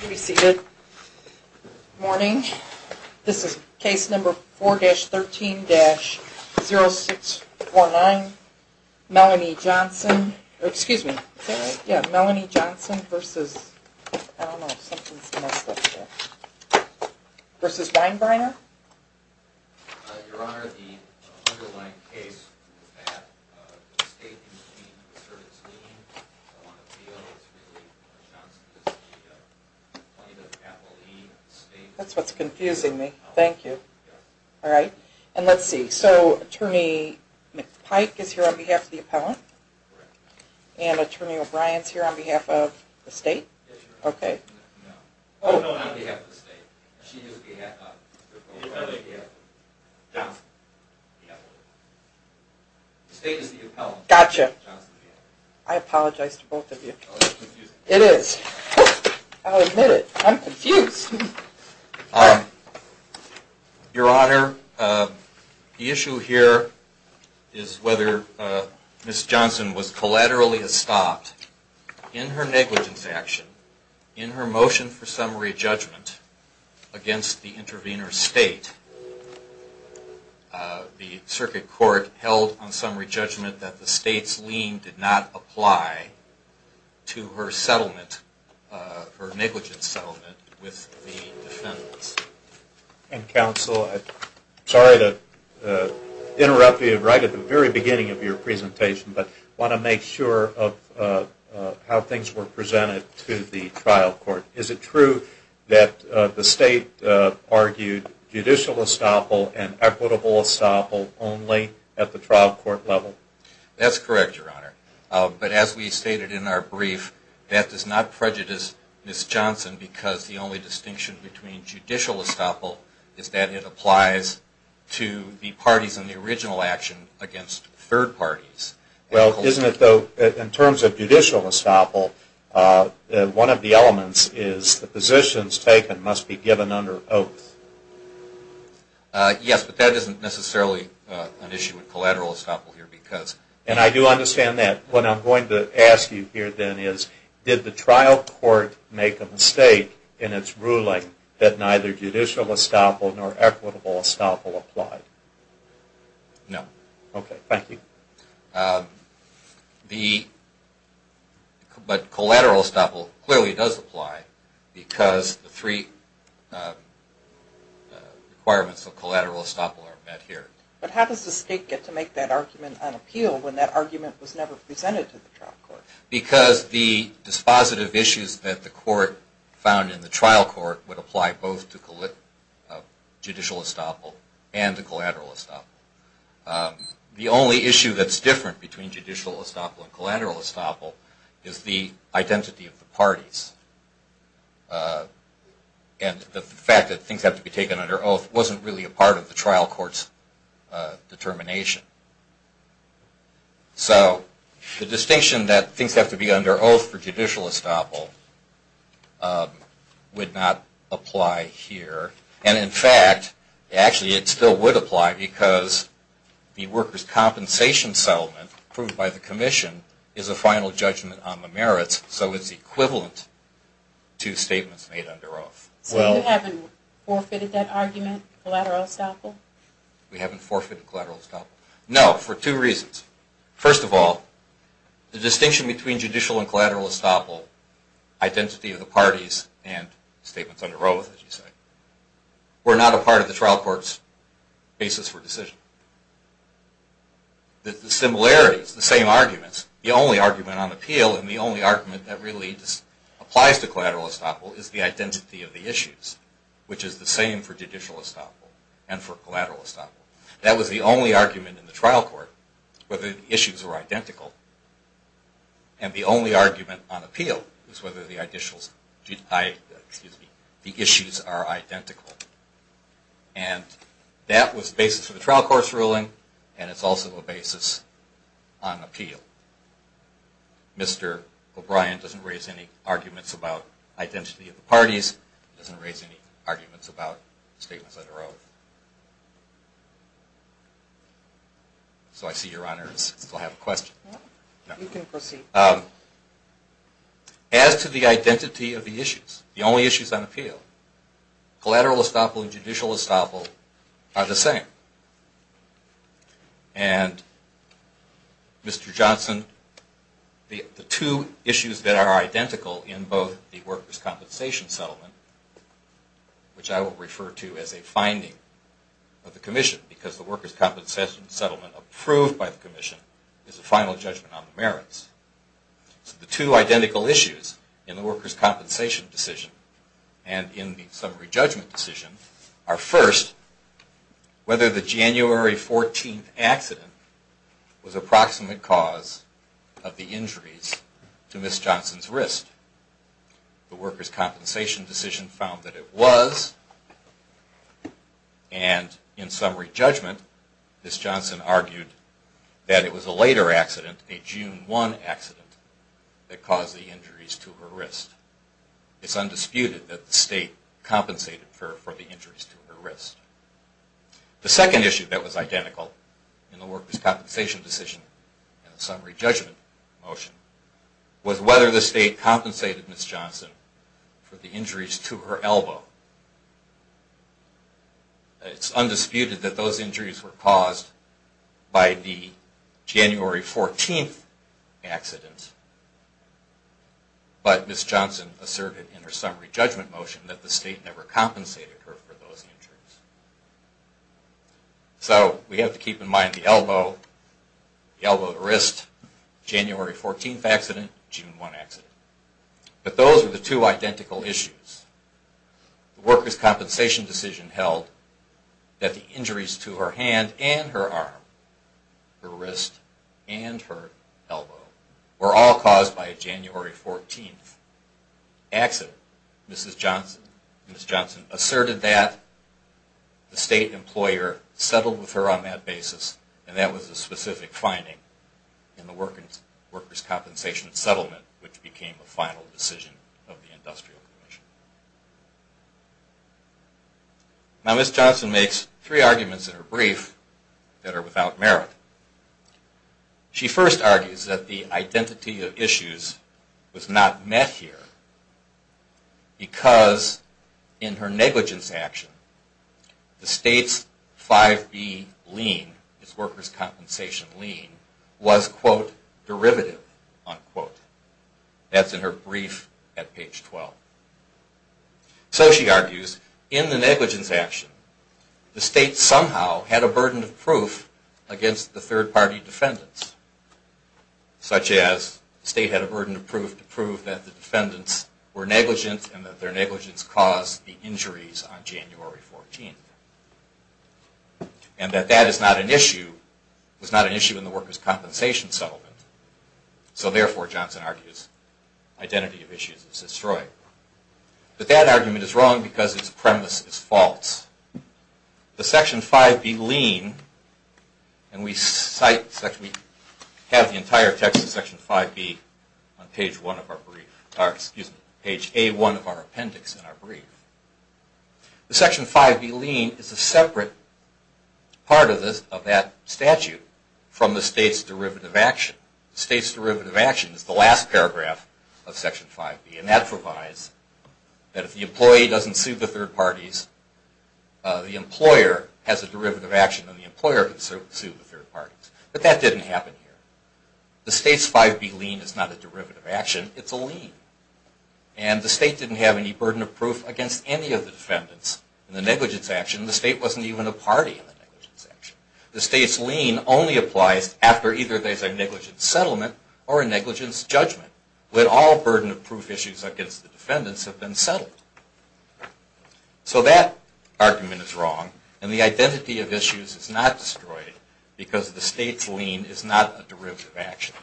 You may be seated. Good morning. This is case number 4-13-0649, Melanie Johnson, excuse me, Melanie Johnson versus, I don't know, something's messed up here, versus Winebreiner. Your Honor, the underlying case was that the state used the service name, so on appeal, it's really Melanie Johnson versus the plaintiff's apple, the state... That's what's confusing me. Thank you. Alright. And let's see, so Attorney McPike is here on behalf of the appellant? Correct. And Attorney O'Brien is here on behalf of the state? Yes, Your Honor. Okay. Oh, no, not on behalf of the state. She is on behalf of Johnson. The state is the appellant. Gotcha. I apologize to both of you. Oh, that's confusing. It is. I'll admit it. I'm confused. Your Honor, the issue here is whether Ms. Johnson was collaterally stopped in her negligence action, in her motion for summary judgment against the intervener state. The circuit court held on summary judgment that the state's lien did not apply to her settlement, her negligence settlement with the defendants. And counsel, I'm sorry to interrupt you right at the very beginning of your presentation, but I want to make sure of how things were presented to the trial court. Is it true that the state argued judicial estoppel and equitable estoppel only at the trial court level? That's correct, Your Honor. But as we stated in our brief, that does not prejudice Ms. Johnson because the only distinction between judicial estoppel is that it applies to the parties in the original action against third parties. Well, isn't it though, in terms of judicial estoppel, one of the elements is the positions taken must be given under oath. Yes, but that isn't necessarily an issue with collateral estoppel here because... And I do understand that. What I'm going to ask you here then is, did the trial court make a mistake in its ruling that neither judicial estoppel nor equitable estoppel applied? No. Okay, thank you. But collateral estoppel clearly does apply because the three requirements of collateral estoppel are met here. But how does the state get to make that argument unappealed when that argument was never presented to the trial court? Because the dispositive issues that the court found in the trial court would apply both to judicial estoppel and to collateral estoppel. The only issue that's different between judicial estoppel and collateral estoppel is the identity of the parties. And the fact that things have to be taken under oath wasn't really a part of the trial court's determination. So the distinction that things have to be under oath for judicial estoppel would not apply here. And in fact, actually it still would apply because the workers' compensation settlement approved by the commission is a final judgment on the merits, so it's equivalent to statements made under oath. So you haven't forfeited that argument, collateral estoppel? No, we haven't forfeited collateral estoppel. No, for two reasons. First of all, the distinction between judicial and collateral estoppel, identity of the parties and statements under oath, as you say, were not a part of the trial court's basis for decision. The similarities, the same arguments, the only argument on appeal and the only argument that really applies to collateral estoppel is the identity of the issues, which is the same for judicial estoppel and for collateral estoppel. That was the only argument in the trial court, whether the issues were identical. And the only argument on appeal is whether the issues are identical. And that was the basis of the trial court's ruling and it's also a basis on appeal. Mr. O'Brien doesn't raise any arguments about identity of the parties. He doesn't raise any arguments about statements under oath. So I see your Honor still has a question. You can proceed. As to the identity of the issues, the only issues on appeal, collateral estoppel and judicial estoppel are the same. And, Mr. Johnson, the two issues that are identical in both the workers' compensation settlement, which I will refer to as a finding of the Commission because the workers' compensation settlement approved by the Commission is a final judgment on the merits. So the two identical issues in the workers' compensation decision and in the summary judgment decision are, first, whether the January 14th accident was a proximate cause of the injuries to Ms. Johnson's wrist. The workers' compensation decision found that it was. And in summary judgment, Ms. Johnson argued that it was a later accident, a June 1 accident, that caused the injuries to her wrist. It's undisputed that the state compensated for the injuries to her wrist. The second issue that was identical in the workers' compensation decision and the summary judgment motion was whether the state compensated Ms. Johnson for the injuries to her elbow. It's undisputed that those injuries were caused by the January 14th accident. But Ms. Johnson asserted in her summary judgment motion that the state never compensated her for those injuries. So we have to keep in mind the elbow, the elbow to wrist, January 14th accident, June 1 accident. But those are the two identical issues. The workers' compensation decision held that the injuries to her hand and her arm, her wrist and her elbow, were all caused by a January 14th accident. Ms. Johnson asserted that the state employer settled with her on that basis and that was a specific finding in the workers' compensation settlement which became the final decision of the Industrial Commission. Now Ms. Johnson makes three arguments in her brief that are without merit. She first argues that the identity of issues was not met here because in her negligence action the state's 5B lien, its workers' compensation lien, was quote derivative unquote. That's in her brief at page 12. So she argues in the negligence action the state somehow had a burden of proof against the third party defendants. Such as the state had a burden of proof to prove that the defendants were negligent and that their negligence caused the injuries on January 14th. And that that is not an issue, was not an issue in the workers' compensation settlement. So therefore, Johnson argues, identity of issues is destroyed. But that argument is wrong because its premise is false. The Section 5B lien, and we cite, we have the entire text of Section 5B on page 1 of our brief, or excuse me, page A1 of our appendix in our brief. The Section 5B lien is a separate part of that statute from the state's derivative action. The state's derivative action is the last paragraph of Section 5B and that provides that if the employee doesn't sue the third parties, the employer has a derivative action and the employer can sue the third parties. But that didn't happen here. The state's 5B lien is not a derivative action, it's a lien. And the state didn't have any burden of proof against any of the defendants in the negligence action. The state wasn't even a party in the negligence action. The state's lien only applies after either there's a negligence settlement or a negligence judgment, when all burden of proof issues against the defendants have been settled. So that argument is wrong and the identity of issues is not destroyed because the state's lien is not a derivative action.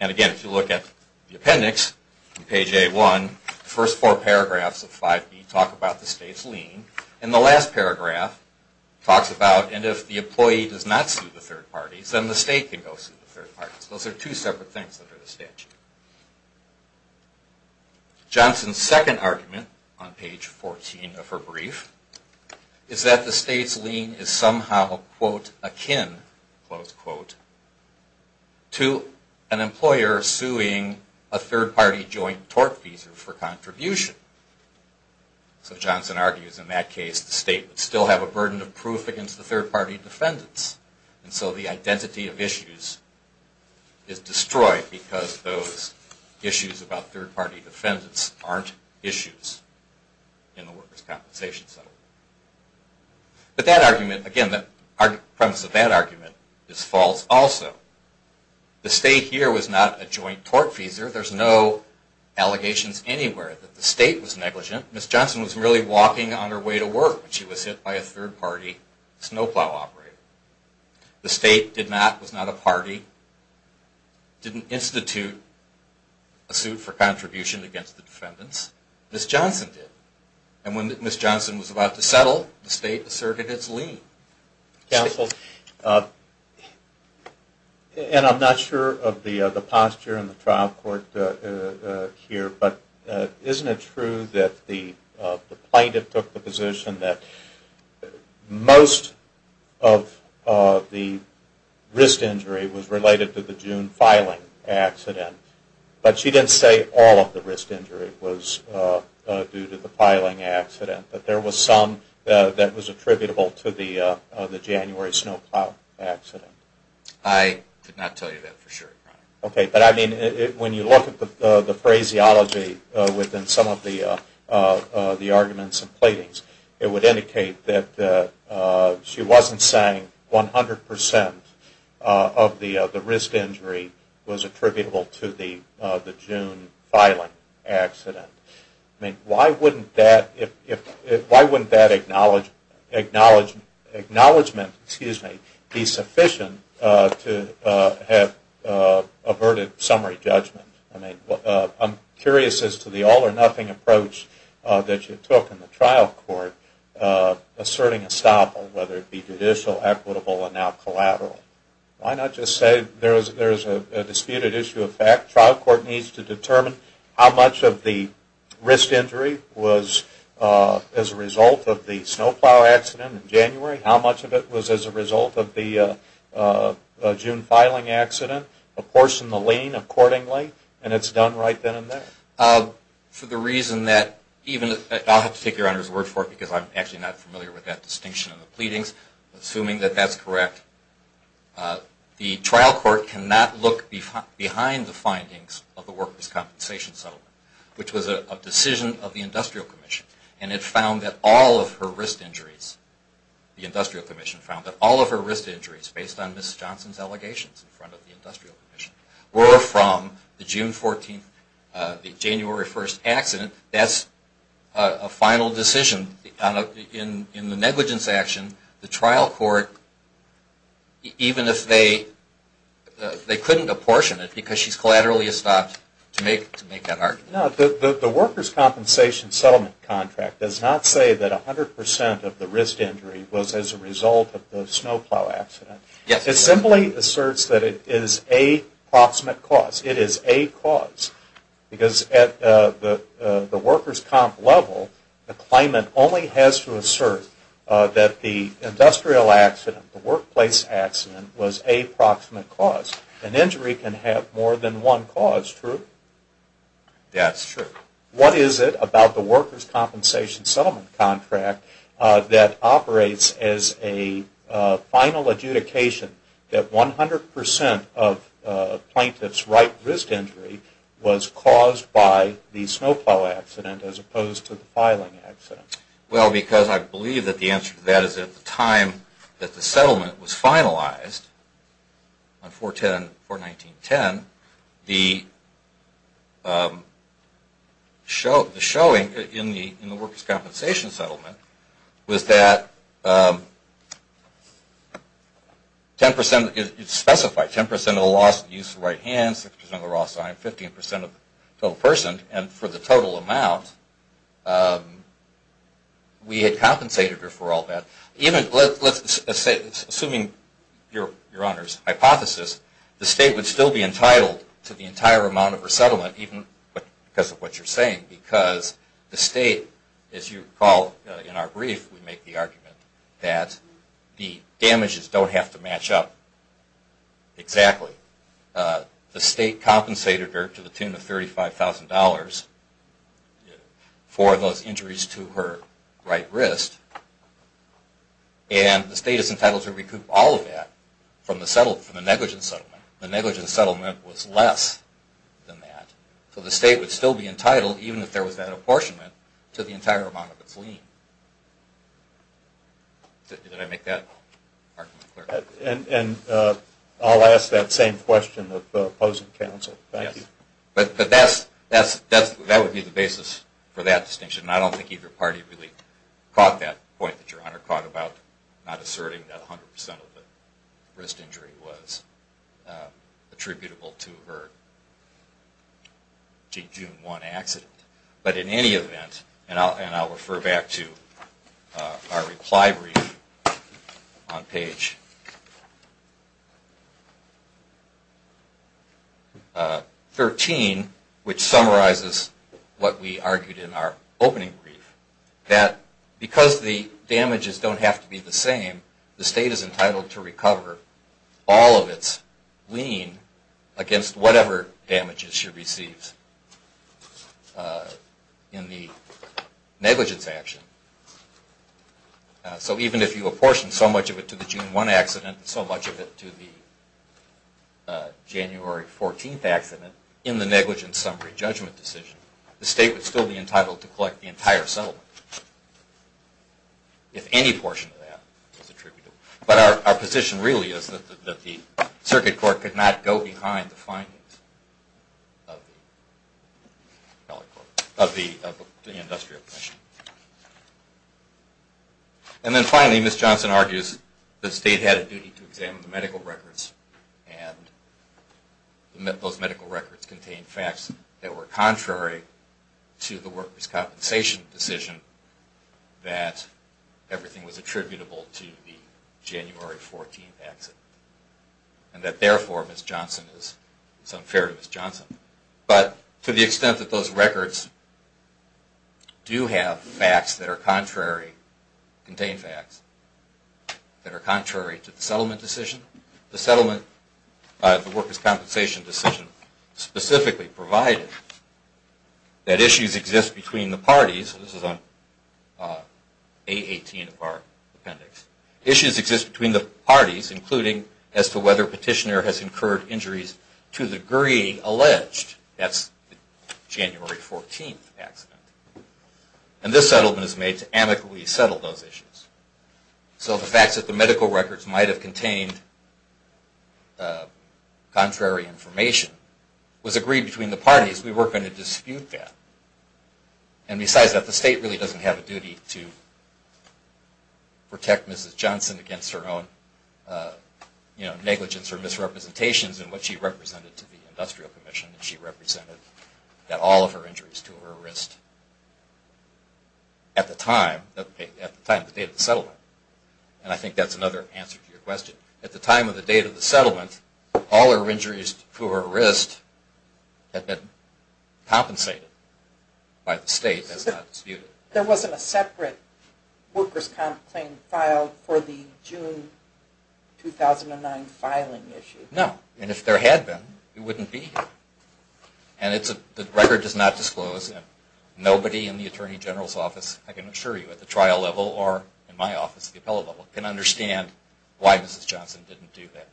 And again, if you look at the appendix in page A1, the first four paragraphs of 5B talk about the state's lien and the last paragraph talks about and if the employee does not sue the third parties, then the state can go sue the third parties. Those are two separate things under the statute. Johnson's second argument on page 14 of her brief is that the state's lien is somehow, quote, akin, close quote, to an employer suing a third party joint tort fees for contribution. So Johnson argues in that case the state would still have a burden of proof against the third party defendants and so the identity of issues is destroyed because those issues about third party defendants aren't issues in the workers' compensation settlement. But that argument, again, the premise of that argument is false also. The state here was not a joint tort feeser. There's no allegations anywhere that the state was negligent. Ms. Johnson was merely walking on her way to work when she was hit by a third party snowplow operator. The state did not, was not a party, didn't institute a suit for contribution against the defendants. Ms. Johnson did. And when Ms. Johnson was about to settle, the state asserted its lien. Counsel, and I'm not sure of the posture in the trial court here, but isn't it true that the plaintiff took the position that most of the wrist injury was related to the June filing accident, but she didn't say all of the wrist injury was due to the filing accident, but there was some that was attributable to the January snowplow accident? I could not tell you that for sure, Your Honor. Okay, but I mean when you look at the phraseology within some of the arguments and platings, it would indicate that she wasn't saying 100% of the wrist injury was attributable to the June filing accident. I mean why wouldn't that acknowledgement be sufficient to have averted summary judgment? I'm curious as to the all-or-nothing approach that you took in the trial court asserting estoppel, whether it be judicial, equitable, and now collateral. Why not just say there's a disputed issue of fact? Trial court needs to determine how much of the wrist injury was as a result of the snowplow accident in January, how much of it was as a result of the June filing accident, apportion the lien accordingly, and it's done right then and there. I'll have to take Your Honor's word for it because I'm actually not familiar with that distinction in the platings. Assuming that that's correct, the trial court cannot look behind the findings of the worker's compensation settlement, which was a decision of the Industrial Commission, and it found that all of her wrist injuries, the Industrial Commission found that all of her wrist injuries, based on Ms. Johnson's allegations in front of the Industrial Commission, were from the January 1st accident. That's a final decision. In the negligence action, the trial court, even if they couldn't apportion it because she's collaterally estopped, to make that argument. The worker's compensation settlement contract does not say that 100% of the wrist injury was as a result of the snowplow accident. It simply asserts that it is a proximate cause. It is a cause because at the worker's comp level, the claimant only has to assert that the industrial accident, the workplace accident, was a proximate cause. An injury can have more than one cause, true? That's true. What is it about the worker's compensation settlement contract that operates as a final adjudication that 100% of a plaintiff's right wrist injury was caused by the snowplow accident as opposed to the filing accident? Well, because I believe that the answer to that is that at the time that the settlement was finalized on 4-10-19-10, the showing in the worker's compensation settlement was that 10% is specified. 10% of the loss of use of the right hand, 6% of the loss of time, 15% of the total person. And for the total amount, we had compensated her for all that. Assuming your Honor's hypothesis, the state would still be entitled to the entire amount of her settlement even because of what you're saying because the state, as you recall in our brief, we make the argument that the damages don't have to match up exactly. The state compensated her to the tune of $35,000 for those injuries to her right wrist and the state is entitled to recoup all of that from the negligent settlement. The negligent settlement was less than that. So the state would still be entitled, even if there was that apportionment, to the entire amount of its lien. Did I make that argument clear? And I'll ask that same question of the opposing counsel. But that would be the basis for that distinction. I don't think either party really caught that point that your Honor caught about not asserting that 100% of the wrist injury was attributable to her June 1 accident. But in any event, and I'll refer back to our reply brief on page 13, which summarizes what we argued in our opening brief, that because the damages don't have to be the same, the state is entitled to recover all of its lien against whatever damages she receives in the negligence action. So even if you apportioned so much of it to the June 1 accident and so much of it to the January 14 accident, in the negligence summary judgment decision, the state would still be entitled to collect the entire settlement if any portion of that was attributed. But our position really is that the circuit court could not go behind the findings of the industrial commission. And then finally, Ms. Johnson argues that the state had a duty to examine the medical records and those medical records contained facts that were contrary to the workers' compensation decision that everything was attributable to the January 14 accident. And that therefore, Ms. Johnson is unfair to Ms. Johnson. But to the extent that those records do have facts that are contrary to the settlement decision, the workers' compensation decision specifically provided that issues exist between the parties, and this is on A18 of our appendix, issues exist between the parties, including as to whether petitioner has incurred injuries to the degree alleged. That's the January 14 accident. And this settlement is made to amicably settle those issues. So the fact that the medical records might have contained contrary information was agreed between the parties. We weren't going to dispute that. And besides that, the state really doesn't have a duty to protect Ms. Johnson against her own negligence or misrepresentations in what she represented to the industrial commission. She represented all of her injuries to her wrist at the time, at the date of the settlement. And I think that's another answer to your question. At the time of the date of the settlement, all her injuries to her wrist had been compensated by the state. That's not disputed. There wasn't a separate workers' comp claim filed for the June 2009 filing issue? No. And if there had been, it wouldn't be. And the record does not disclose it. Nobody in the Attorney General's office, I can assure you, at the trial level or in my office at the appellate level can understand why Mrs. Johnson didn't do that.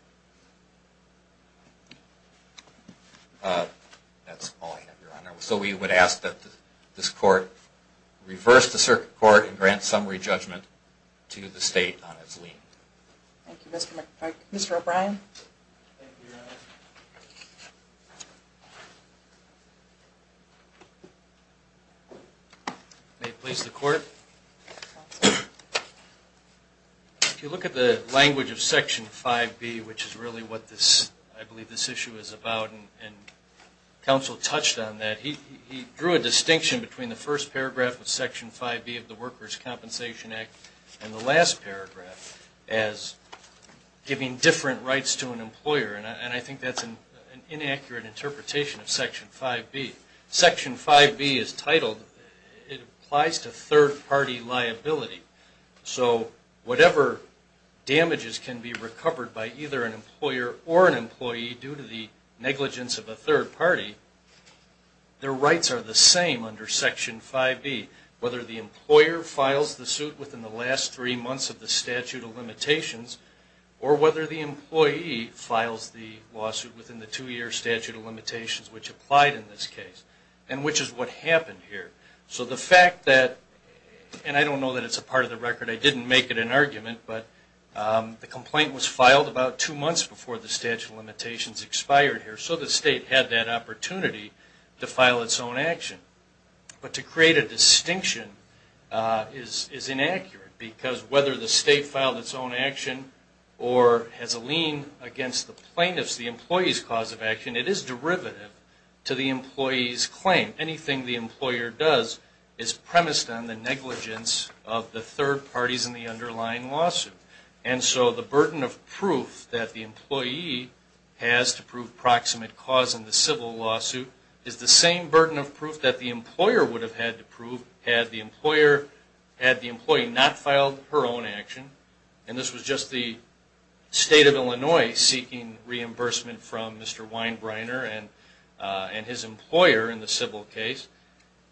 That's all I have, Your Honor. So we would ask that this Court reverse the circuit court and grant summary judgment to the state on its lien. Thank you, Mr. McPike. Thank you, Your Honor. May it please the Court. If you look at the language of Section 5B, which is really what I believe this issue is about, and counsel touched on that, he drew a distinction between the first paragraph of Section 5B of the Workers' Compensation Act and the last paragraph as giving different rights to an employer. And I think that's an inaccurate interpretation of Section 5B. Section 5B is titled, it applies to third-party liability. So whatever damages can be recovered by either an employer or an employee due to the negligence of a third party, their rights are the same under Section 5B, whether the employer files the suit within the last three months of the statute of limitations or whether the employee files the lawsuit within the two-year statute of limitations which applied in this case and which is what happened here. So the fact that, and I don't know that it's a part of the record, I didn't make it an argument, but the complaint was filed about two months before the statute of limitations expired here, so the state had that opportunity to file its own action. But to create a distinction is inaccurate because whether the state filed its own action or has a lien against the plaintiff's, the employee's, cause of action, it is derivative to the employee's claim. Anything the employer does is premised on the negligence of the third parties in the underlying lawsuit. And so the burden of proof that the employee has to prove proximate cause in the civil lawsuit is the same burden of proof that the employer would have had to prove had the employer, had the employee not filed her own action, and this was just the state of Illinois seeking reimbursement from Mr. Weinbrenner and his employer in the civil case,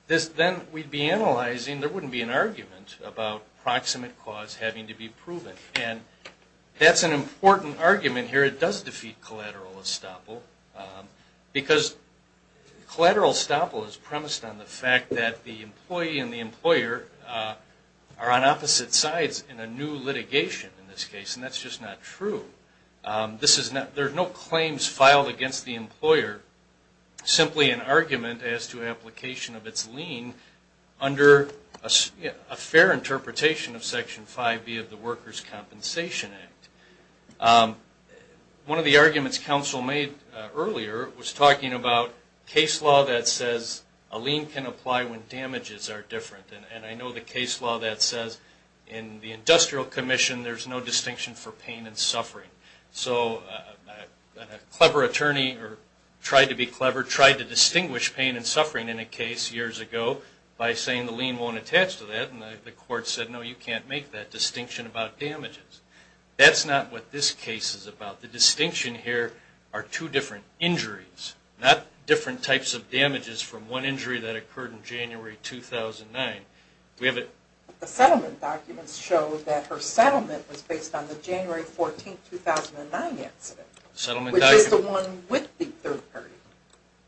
then we'd be analyzing, there wouldn't be an argument about proximate cause having to be proven. And that's an important argument here. But it does defeat collateral estoppel, because collateral estoppel is premised on the fact that the employee and the employer are on opposite sides in a new litigation in this case, and that's just not true. There are no claims filed against the employer, simply an argument as to application of its lien under a fair interpretation of Section 5B of the Workers' Compensation Act. One of the arguments counsel made earlier was talking about case law that says a lien can apply when damages are different. And I know the case law that says in the industrial commission, there's no distinction for pain and suffering. So a clever attorney, or tried to be clever, tried to distinguish pain and suffering in a case years ago by saying the lien won't attach to that, and the court said, no, you can't make that distinction about damages. That's not what this case is about. The distinction here are two different injuries, not different types of damages from one injury that occurred in January 2009. The settlement documents show that her settlement was based on the January 14, 2009 incident, which is the one with the third party,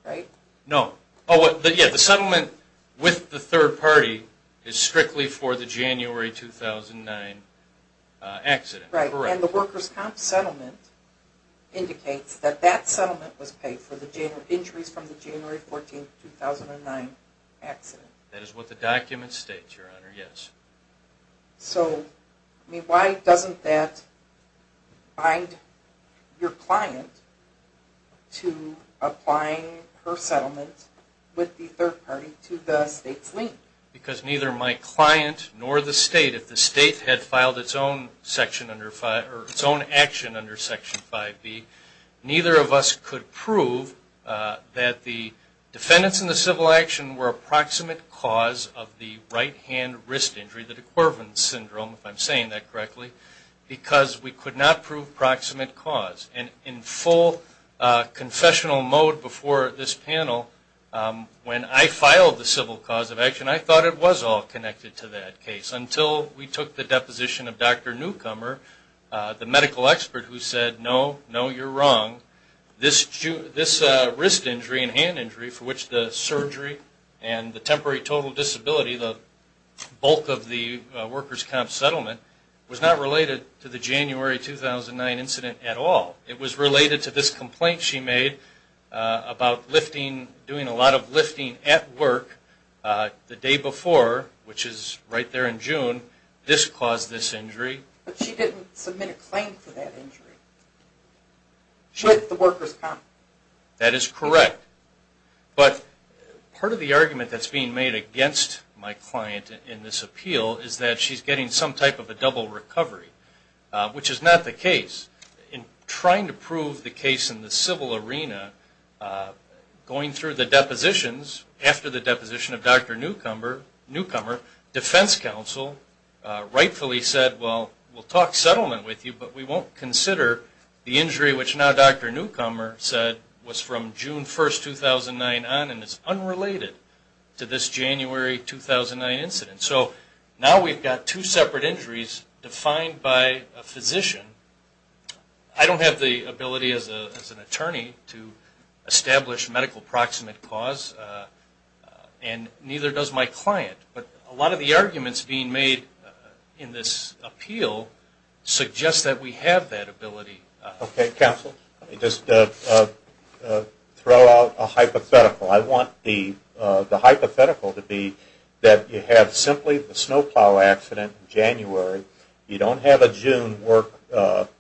right? No. The settlement with the third party is strictly for the January 2009 accident, correct? Right. And the workers' comp settlement indicates that that settlement was paid for the injuries from the January 14, 2009 accident. That is what the document states, Your Honor, yes. So why doesn't that bind your client to applying her settlement with the third party to the state's lien? Because neither my client nor the state, if the state had filed its own action under Section 5B, neither of us could prove that the defendants in the civil action were approximate cause of the right-hand wrist injury, the de Quervin syndrome, if I'm saying that correctly, because we could not prove proximate cause. And in full confessional mode before this panel, when I filed the civil cause of action, I thought it was all connected to that case until we took the deposition of Dr. Newcomer, the medical expert who said, no, no, you're wrong. This wrist injury and hand injury for which the surgery and the temporary total disability, the bulk of the workers' comp settlement, was not related to the January 2009 incident at all. It was related to this complaint she made about lifting, doing a lot of lifting at work the day before, which is right there in June, this caused this injury. But she didn't submit a claim for that injury. She had the workers' comp. That is correct. But part of the argument that's being made against my client in this appeal is that she's getting some type of a double recovery, which is not the case. In trying to prove the case in the civil arena, going through the depositions, after the deposition of Dr. Newcomer, defense counsel rightfully said, well, we'll talk settlement with you, but we won't consider the injury, which now Dr. Newcomer said, was from June 1, 2009 on and is unrelated to this January 2009 incident. So now we've got two separate injuries defined by a physician. I don't have the ability as an attorney to establish medical proximate cause, and neither does my client. But a lot of the arguments being made in this appeal suggest that we have that ability. Okay, counsel. Let me just throw out a hypothetical. I want the hypothetical to be that you have simply the snowplow accident in January. You don't have a June work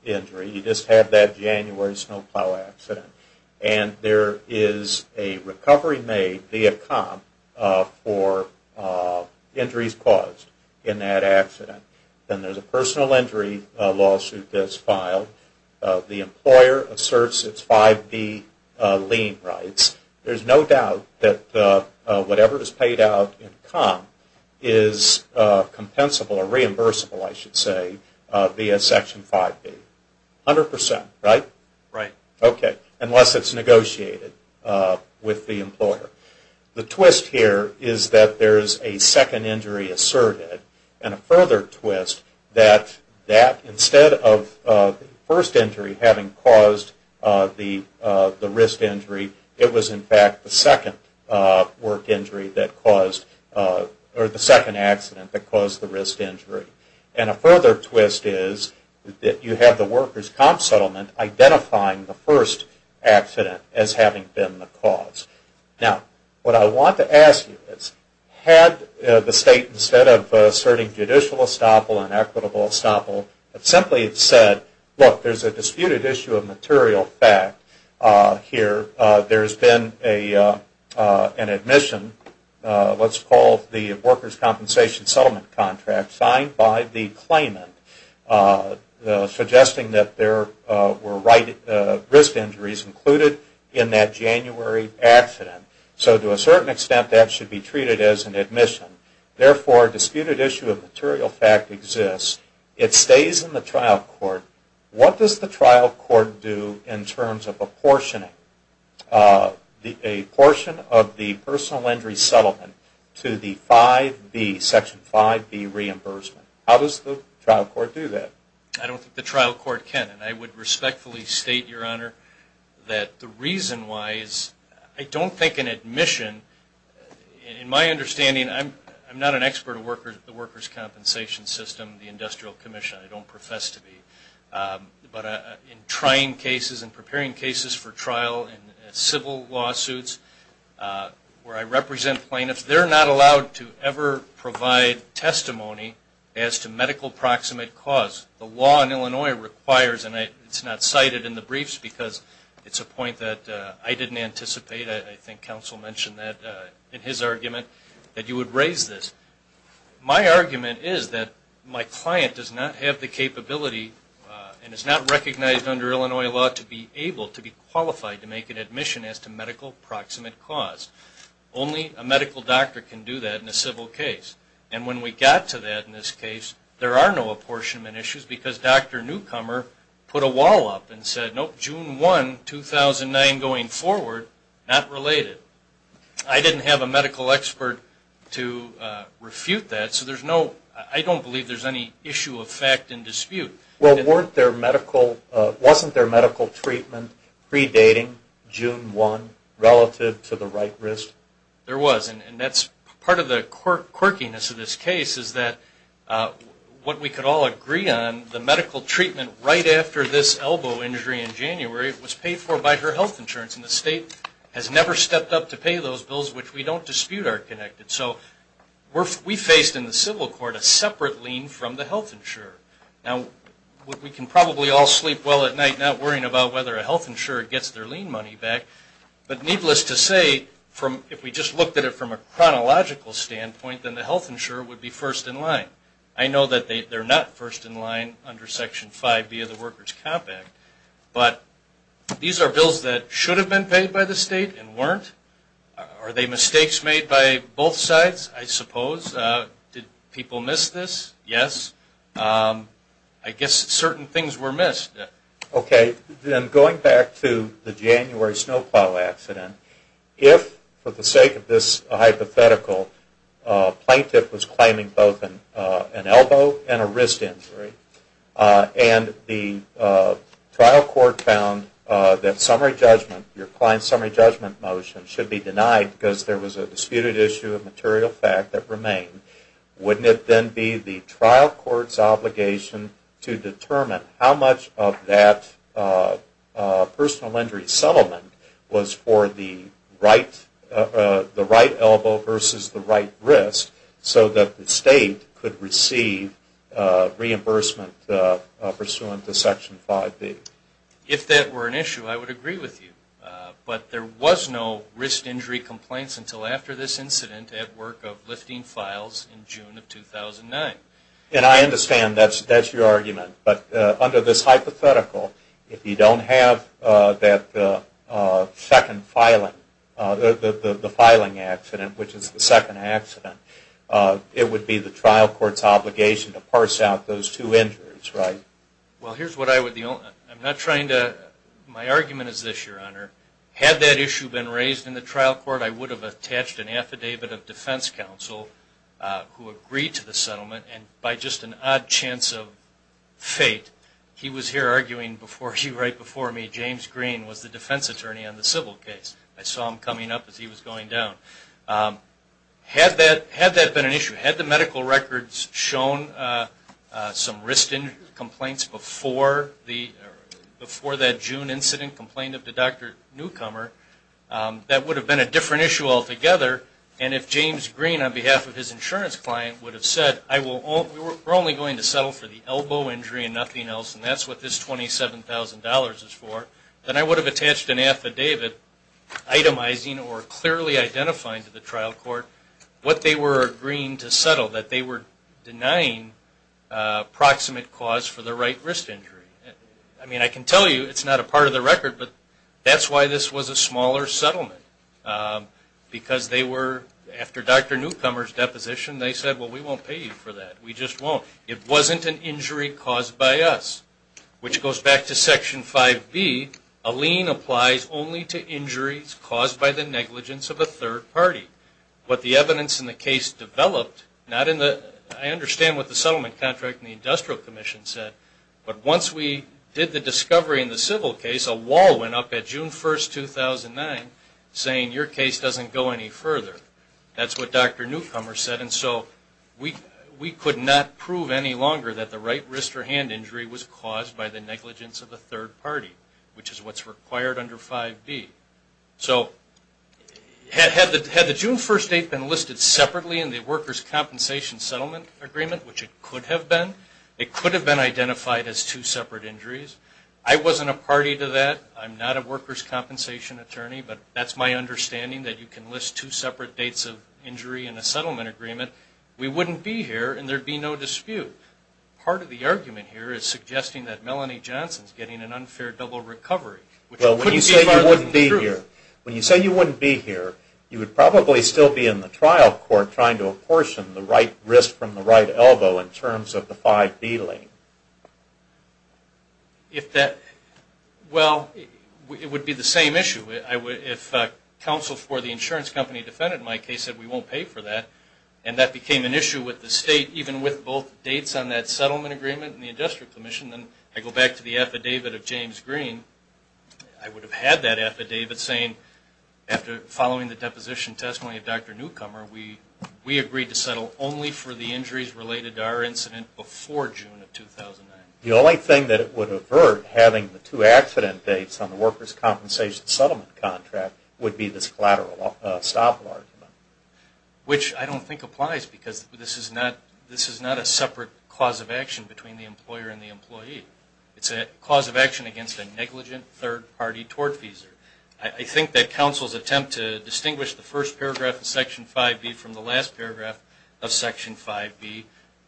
injury. You just have that January snowplow accident. And there is a recovery made via comp for injuries caused in that accident. Then there's a personal injury lawsuit that's filed. The employer asserts its 5B lien rights. There's no doubt that whatever is paid out in comp is compensable or reimbursable, I should say, via Section 5B. A hundred percent, right? Right. Okay. Unless it's negotiated with the employer. The twist here is that there's a second injury asserted. And a further twist that instead of the first injury having caused the wrist injury, it was in fact the second work injury that caused or the second accident that caused the wrist injury. And a further twist is that you have the workers' comp settlement identifying the first accident as having been the cause. Now, what I want to ask you is, had the state, instead of asserting judicial estoppel and equitable estoppel, simply said, look, there's a disputed issue of material fact here. There's been an admission, what's called the workers' compensation settlement contract, signed by the claimant, suggesting that there were wrist injuries included in that January accident. So to a certain extent, that should be treated as an admission. Therefore, a disputed issue of material fact exists. It stays in the trial court. What does the trial court do in terms of apportioning a portion of the personal injury settlement to the 5B, Section 5B reimbursement? How does the trial court do that? I don't think the trial court can. And I would respectfully state, Your Honor, that the reason why is I don't think an admission, in my understanding, I'm not an expert of the workers' compensation system, the Industrial Commission. I don't profess to be. But in trying cases and preparing cases for trial in civil lawsuits, where I represent plaintiffs, they're not allowed to ever provide testimony as to medical proximate cause. The law in Illinois requires, and it's not cited in the briefs because it's a point that I didn't anticipate. I think counsel mentioned that in his argument, that you would raise this. My argument is that my client does not have the capability and is not recognized under Illinois law to be able to be qualified to make an admission as to medical proximate cause. Only a medical doctor can do that in a civil case. And when we got to that in this case, there are no apportionment issues because Dr. Newcomer put a wall up and said, Nope, June 1, 2009 going forward, not related. I didn't have a medical expert to refute that. So I don't believe there's any issue of fact in dispute. Well, wasn't there medical treatment predating June 1 relative to the right risk? There was. And part of the quirkiness of this case is that what we could all agree on, the medical treatment right after this elbow injury in January was paid for by her health insurance. And the state has never stepped up to pay those bills, which we don't dispute are connected. So we faced in the civil court a separate lien from the health insurer. Now, we can probably all sleep well at night not worrying about whether a health insurer gets their lien money back. But needless to say, if we just looked at it from a chronological standpoint, then the health insurer would be first in line. I know that they're not first in line under Section 5B of the Workers' Comp Act. But these are bills that should have been paid by the state and weren't. Are they mistakes made by both sides? I suppose. Did people miss this? Yes. I guess certain things were missed. Okay. Then going back to the January snowplow accident, if, for the sake of this hypothetical, a plaintiff was claiming both an elbow and a wrist injury, and the trial court found that summary judgment, your client's summary judgment motion, should be denied because there was a disputed issue of material fact that remained, wouldn't it then be the trial court's obligation to determine how much of that personal injury settlement was for the right elbow versus the right wrist so that the state could receive reimbursement pursuant to Section 5B? If that were an issue, I would agree with you. But there was no wrist injury complaints until after this incident at work of lifting files in June of 2009. And I understand that's your argument. But under this hypothetical, if you don't have that second filing, the filing accident, which is the second accident, it would be the trial court's obligation to parse out those two injuries, right? Well, here's what I would. I'm not trying to. My argument is this, Your Honor. Had that issue been raised in the trial court, I would have attached an affidavit of defense counsel who agreed to the settlement. And by just an odd chance of fate, he was here arguing right before me, James Green, was the defense attorney on the civil case. I saw him coming up as he was going down. Had that been an issue, had the medical records shown some wrist injury complaints before that June incident, complained of the doctor newcomer, that would have been a different issue altogether. And if James Green, on behalf of his insurance client, would have said, we're only going to settle for the elbow injury and nothing else, and that's what this $27,000 is for, then I would have attached an affidavit itemizing or clearly identifying to the trial court what they were agreeing to settle, that they were denying proximate cause for the right wrist injury. I mean, I can tell you it's not a part of the record, but that's why this was a smaller settlement. Because they were, after Dr. Newcomer's deposition, they said, well, we won't pay you for that. We just won't. It wasn't an injury caused by us, which goes back to Section 5B. A lien applies only to injuries caused by the negligence of a third party. What the evidence in the case developed, not in the, I understand what the settlement contract and the industrial commission said, but once we did the discovery in the civil case, a wall went up at June 1st, 2009, saying your case doesn't go any further. That's what Dr. Newcomer said, and so we could not prove any longer that the right wrist or hand injury was caused by the negligence of a third party, which is what's required under 5B. So had the June 1st date been listed separately in the workers' compensation settlement agreement, which it could have been, it could have been identified as two separate injuries. I wasn't a party to that. I'm not a workers' compensation attorney, but that's my understanding, that you can list two separate dates of injury in a settlement agreement. We wouldn't be here, and there'd be no dispute. Part of the argument here is suggesting that Melanie Johnson's getting an unfair double recovery. Well, when you say you wouldn't be here, when you say you wouldn't be here, you would probably still be in the trial court trying to apportion the right wrist from the right elbow in terms of the 5B lane. Well, it would be the same issue. If counsel for the insurance company defended my case, said we won't pay for that, and that became an issue with the state, even with both dates on that settlement agreement and the industrial commission, then I go back to the affidavit of James Green. I would have had that affidavit saying, after following the deposition testimony of Dr. Newcomer, we agreed to settle only for the injuries related to our incident before June of 2009. The only thing that would avert having the two accident dates on the workers' compensation settlement contract would be this collateral stop argument. Which I don't think applies, because this is not a separate cause of action between the employer and the employee. It's a cause of action against a negligent third-party tortfeasor. I think that counsel's attempt to distinguish the first paragraph of Section 5B from the last paragraph of Section 5B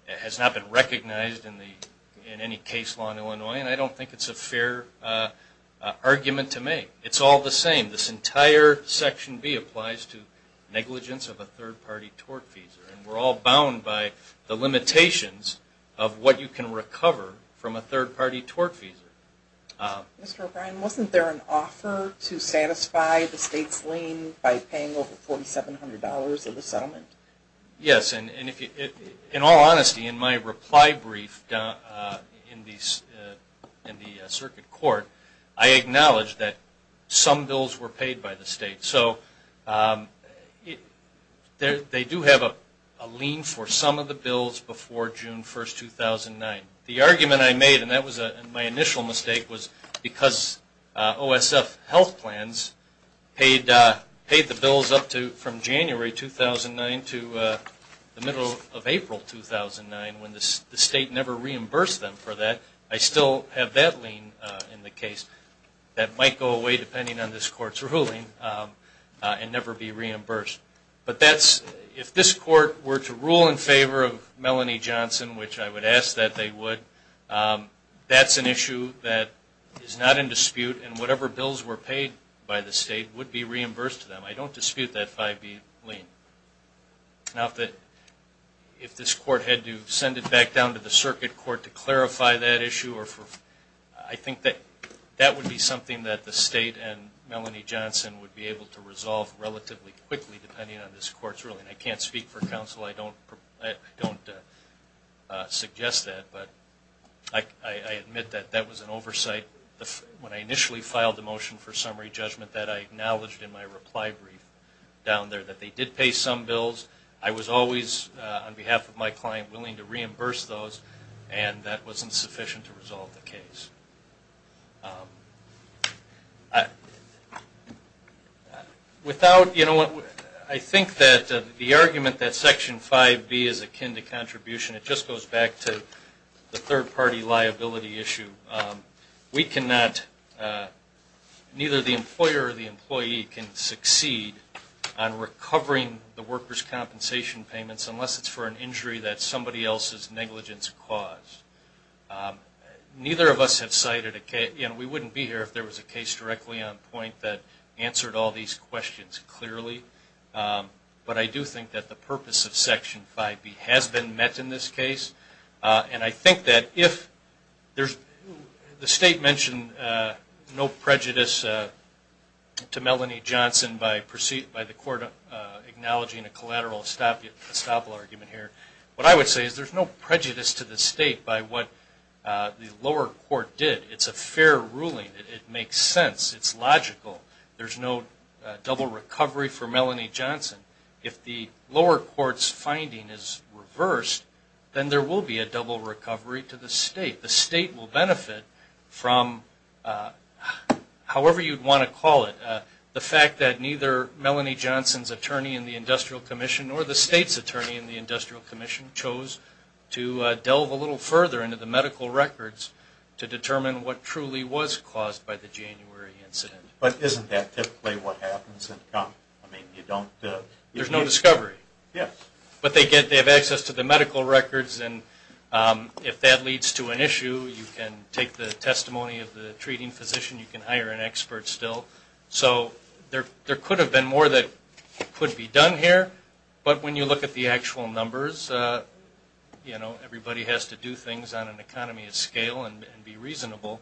has not been recognized in any case law in Illinois, and I don't think it's a fair argument to make. It's all the same. This entire Section B applies to negligence of a third-party tortfeasor, and we're all bound by the limitations of what you can recover from a third-party tortfeasor. Mr. O'Brien, wasn't there an offer to satisfy the state's lien by paying over $4,700 of the settlement? Yes, and in all honesty, in my reply brief in the circuit court, I acknowledged that some bills were paid by the state. So they do have a lien for some of the bills before June 1, 2009. The argument I made, and that was my initial mistake, was because OSF health plans paid the bills up from January 2009 to the middle of April 2009 when the state never reimbursed them for that. I still have that lien in the case. That might go away, depending on this Court's ruling, and never be reimbursed. But if this Court were to rule in favor of Melanie Johnson, which I would ask that they would, that's an issue that is not in dispute, and whatever bills were paid by the state would be reimbursed to them. I don't dispute that 5B lien. Now, if this Court had to send it back down to the circuit court to clarify that issue, I think that would be something that the state and Melanie Johnson would be able to resolve relatively quickly, depending on this Court's ruling. I can't speak for counsel. I don't suggest that, but I admit that that was an oversight. When I initially filed the motion for summary judgment, that I acknowledged in my reply brief down there, that they did pay some bills. I was always, on behalf of my client, willing to reimburse those, and that wasn't sufficient to resolve the case. Without, you know, I think that the argument that Section 5B is akin to contribution, it just goes back to the third-party liability issue. We cannot, neither the employer or the employee can succeed on recovering the workers' compensation payments, unless it's for an injury that somebody else's negligence caused. Neither of us have cited a case, and we wouldn't be here if there was a case directly on point that answered all these questions clearly, but I do think that the purpose of Section 5B has been met in this case, and I think that if there's, the State mentioned no prejudice to Melanie Johnson by the Court acknowledging a collateral estoppel argument here. What I would say is there's no prejudice to the State by what the lower court did. It's a fair ruling. It makes sense. It's logical. There's no double recovery for Melanie Johnson. If the lower court's finding is reversed, then there will be a double recovery to the State. The State will benefit from, however you'd want to call it, the fact that neither Melanie Johnson's attorney in the Industrial Commission or the State's attorney in the Industrial Commission chose to delve a little further into the medical records to determine what truly was caused by the January incident. But isn't that typically what happens? There's no discovery. Yes. But they have access to the medical records, and if that leads to an issue, you can take the testimony of the treating physician. You can hire an expert still. So there could have been more that could be done here, but when you look at the actual numbers, everybody has to do things on an economy of scale and be reasonable.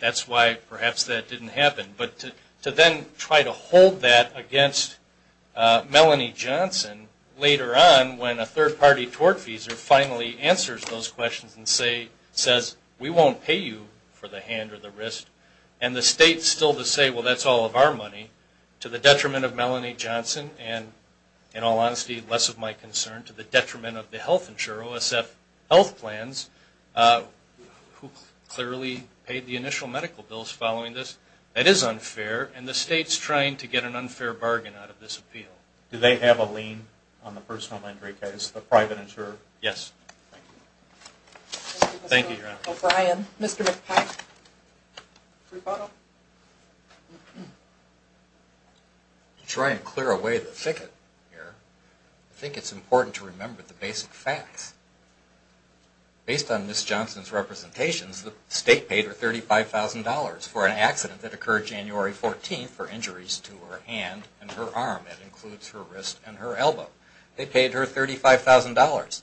That's why perhaps that didn't happen. But to then try to hold that against Melanie Johnson later on when a third-party tortfeasor finally answers those questions and says, we won't pay you for the hand or the wrist, and the State's still to say, well, that's all of our money. To the detriment of Melanie Johnson, and in all honesty, less of my concern, to the detriment of the health insurer, OSF Health Plans, who clearly paid the initial medical bills following this. That is unfair, and the State's trying to get an unfair bargain out of this appeal. Do they have a lien on the personal injury case, the private insurer? Yes. Thank you. Thank you, Your Honor. Mr. O'Brien. Mr. McPike. Free photo. To try and clear away the thicket here, I think it's important to remember the basic facts. Based on Ms. Johnson's representations, the State paid her $35,000 for an accident that occurred January 14th for injuries to her hand and her arm. That includes her wrist and her elbow. They paid her $35,000.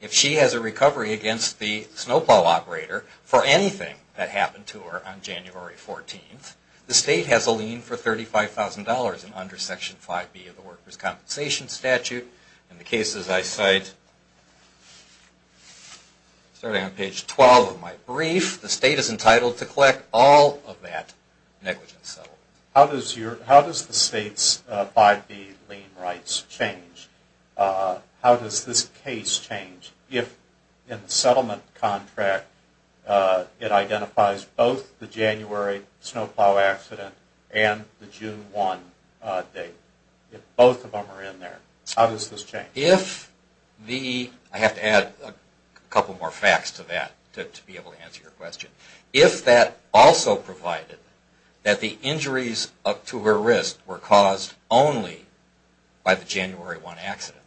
If she has a recovery against the snowplow operator for anything that happened to her on January 14th, the State has a lien for $35,000 under Section 5B of the Starting on page 12 of my brief, the State is entitled to collect all of that negligent settlement. How does the State's 5B lien rights change? How does this case change if in the settlement contract it identifies both the January snowplow accident and the June 1 date? If both of them are in there, how does this change? I have to add a couple more facts to that to be able to answer your question. If that also provided that the injuries to her wrist were caused only by the January 1 accident,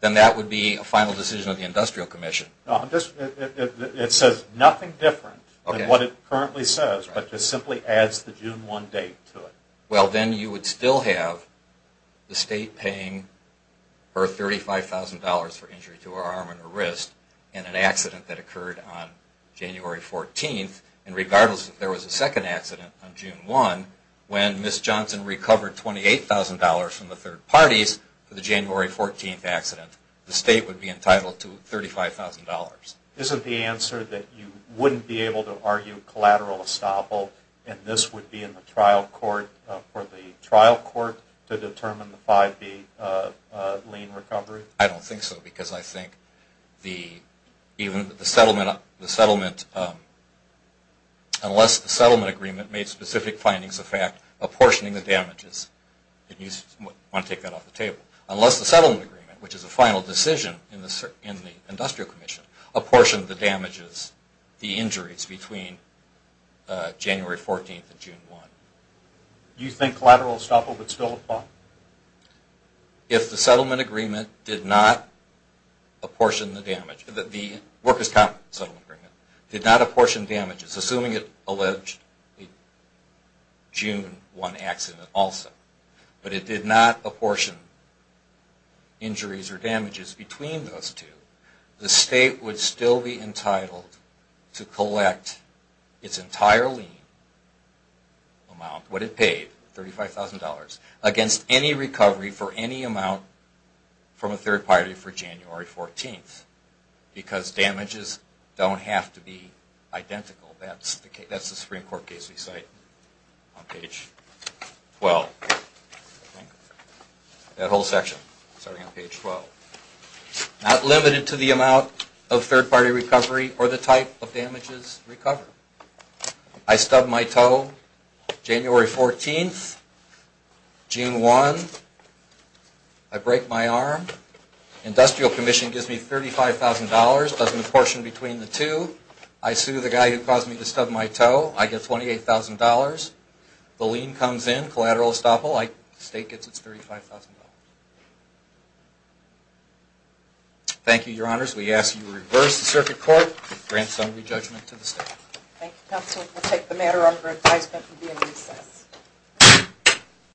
then that would be a final decision of the Industrial Commission. It says nothing different than what it currently says, but just simply adds the June 1 date to it. Well, then you would still have the State paying her $35,000 for injury to her arm and her wrist in an accident that occurred on January 14th. And regardless if there was a second accident on June 1, when Ms. Johnson recovered $28,000 from the third parties for the January 14th accident, the State would be entitled to $35,000. Isn't the answer that you wouldn't be able to argue collateral estoppel and this would be in the trial court? I don't think so, because unless the settlement agreement made specific findings of fact apportioning the damages, unless the settlement agreement, which is a final decision in the Industrial Commission, apportioned the injuries between January 14th and June 1. Do you think collateral estoppel would still apply? If the settlement agreement did not apportion the damages, assuming it alleged June 1 accident also, but it did not apportion injuries or damages between those two, the State would still be entitled to collect its entire lien amount, what it paid. $35,000 against any recovery for any amount from a third party for January 14th, because damages don't have to be identical. That's the Supreme Court case we cite on page 12. Not limited to the amount of third party recovery or the type of damages recovered. I stub my toe January 14th, June 1, I break my arm, Industrial Commission gives me $35,000, doesn't apportion between the two, I sue the guy who caused me to stub my toe, I get $28,000, the lien comes in, collateral estoppel, the State gets its $35,000. Thank you, Your Honors. We ask that you reverse the circuit court and grant some re-judgment to the State.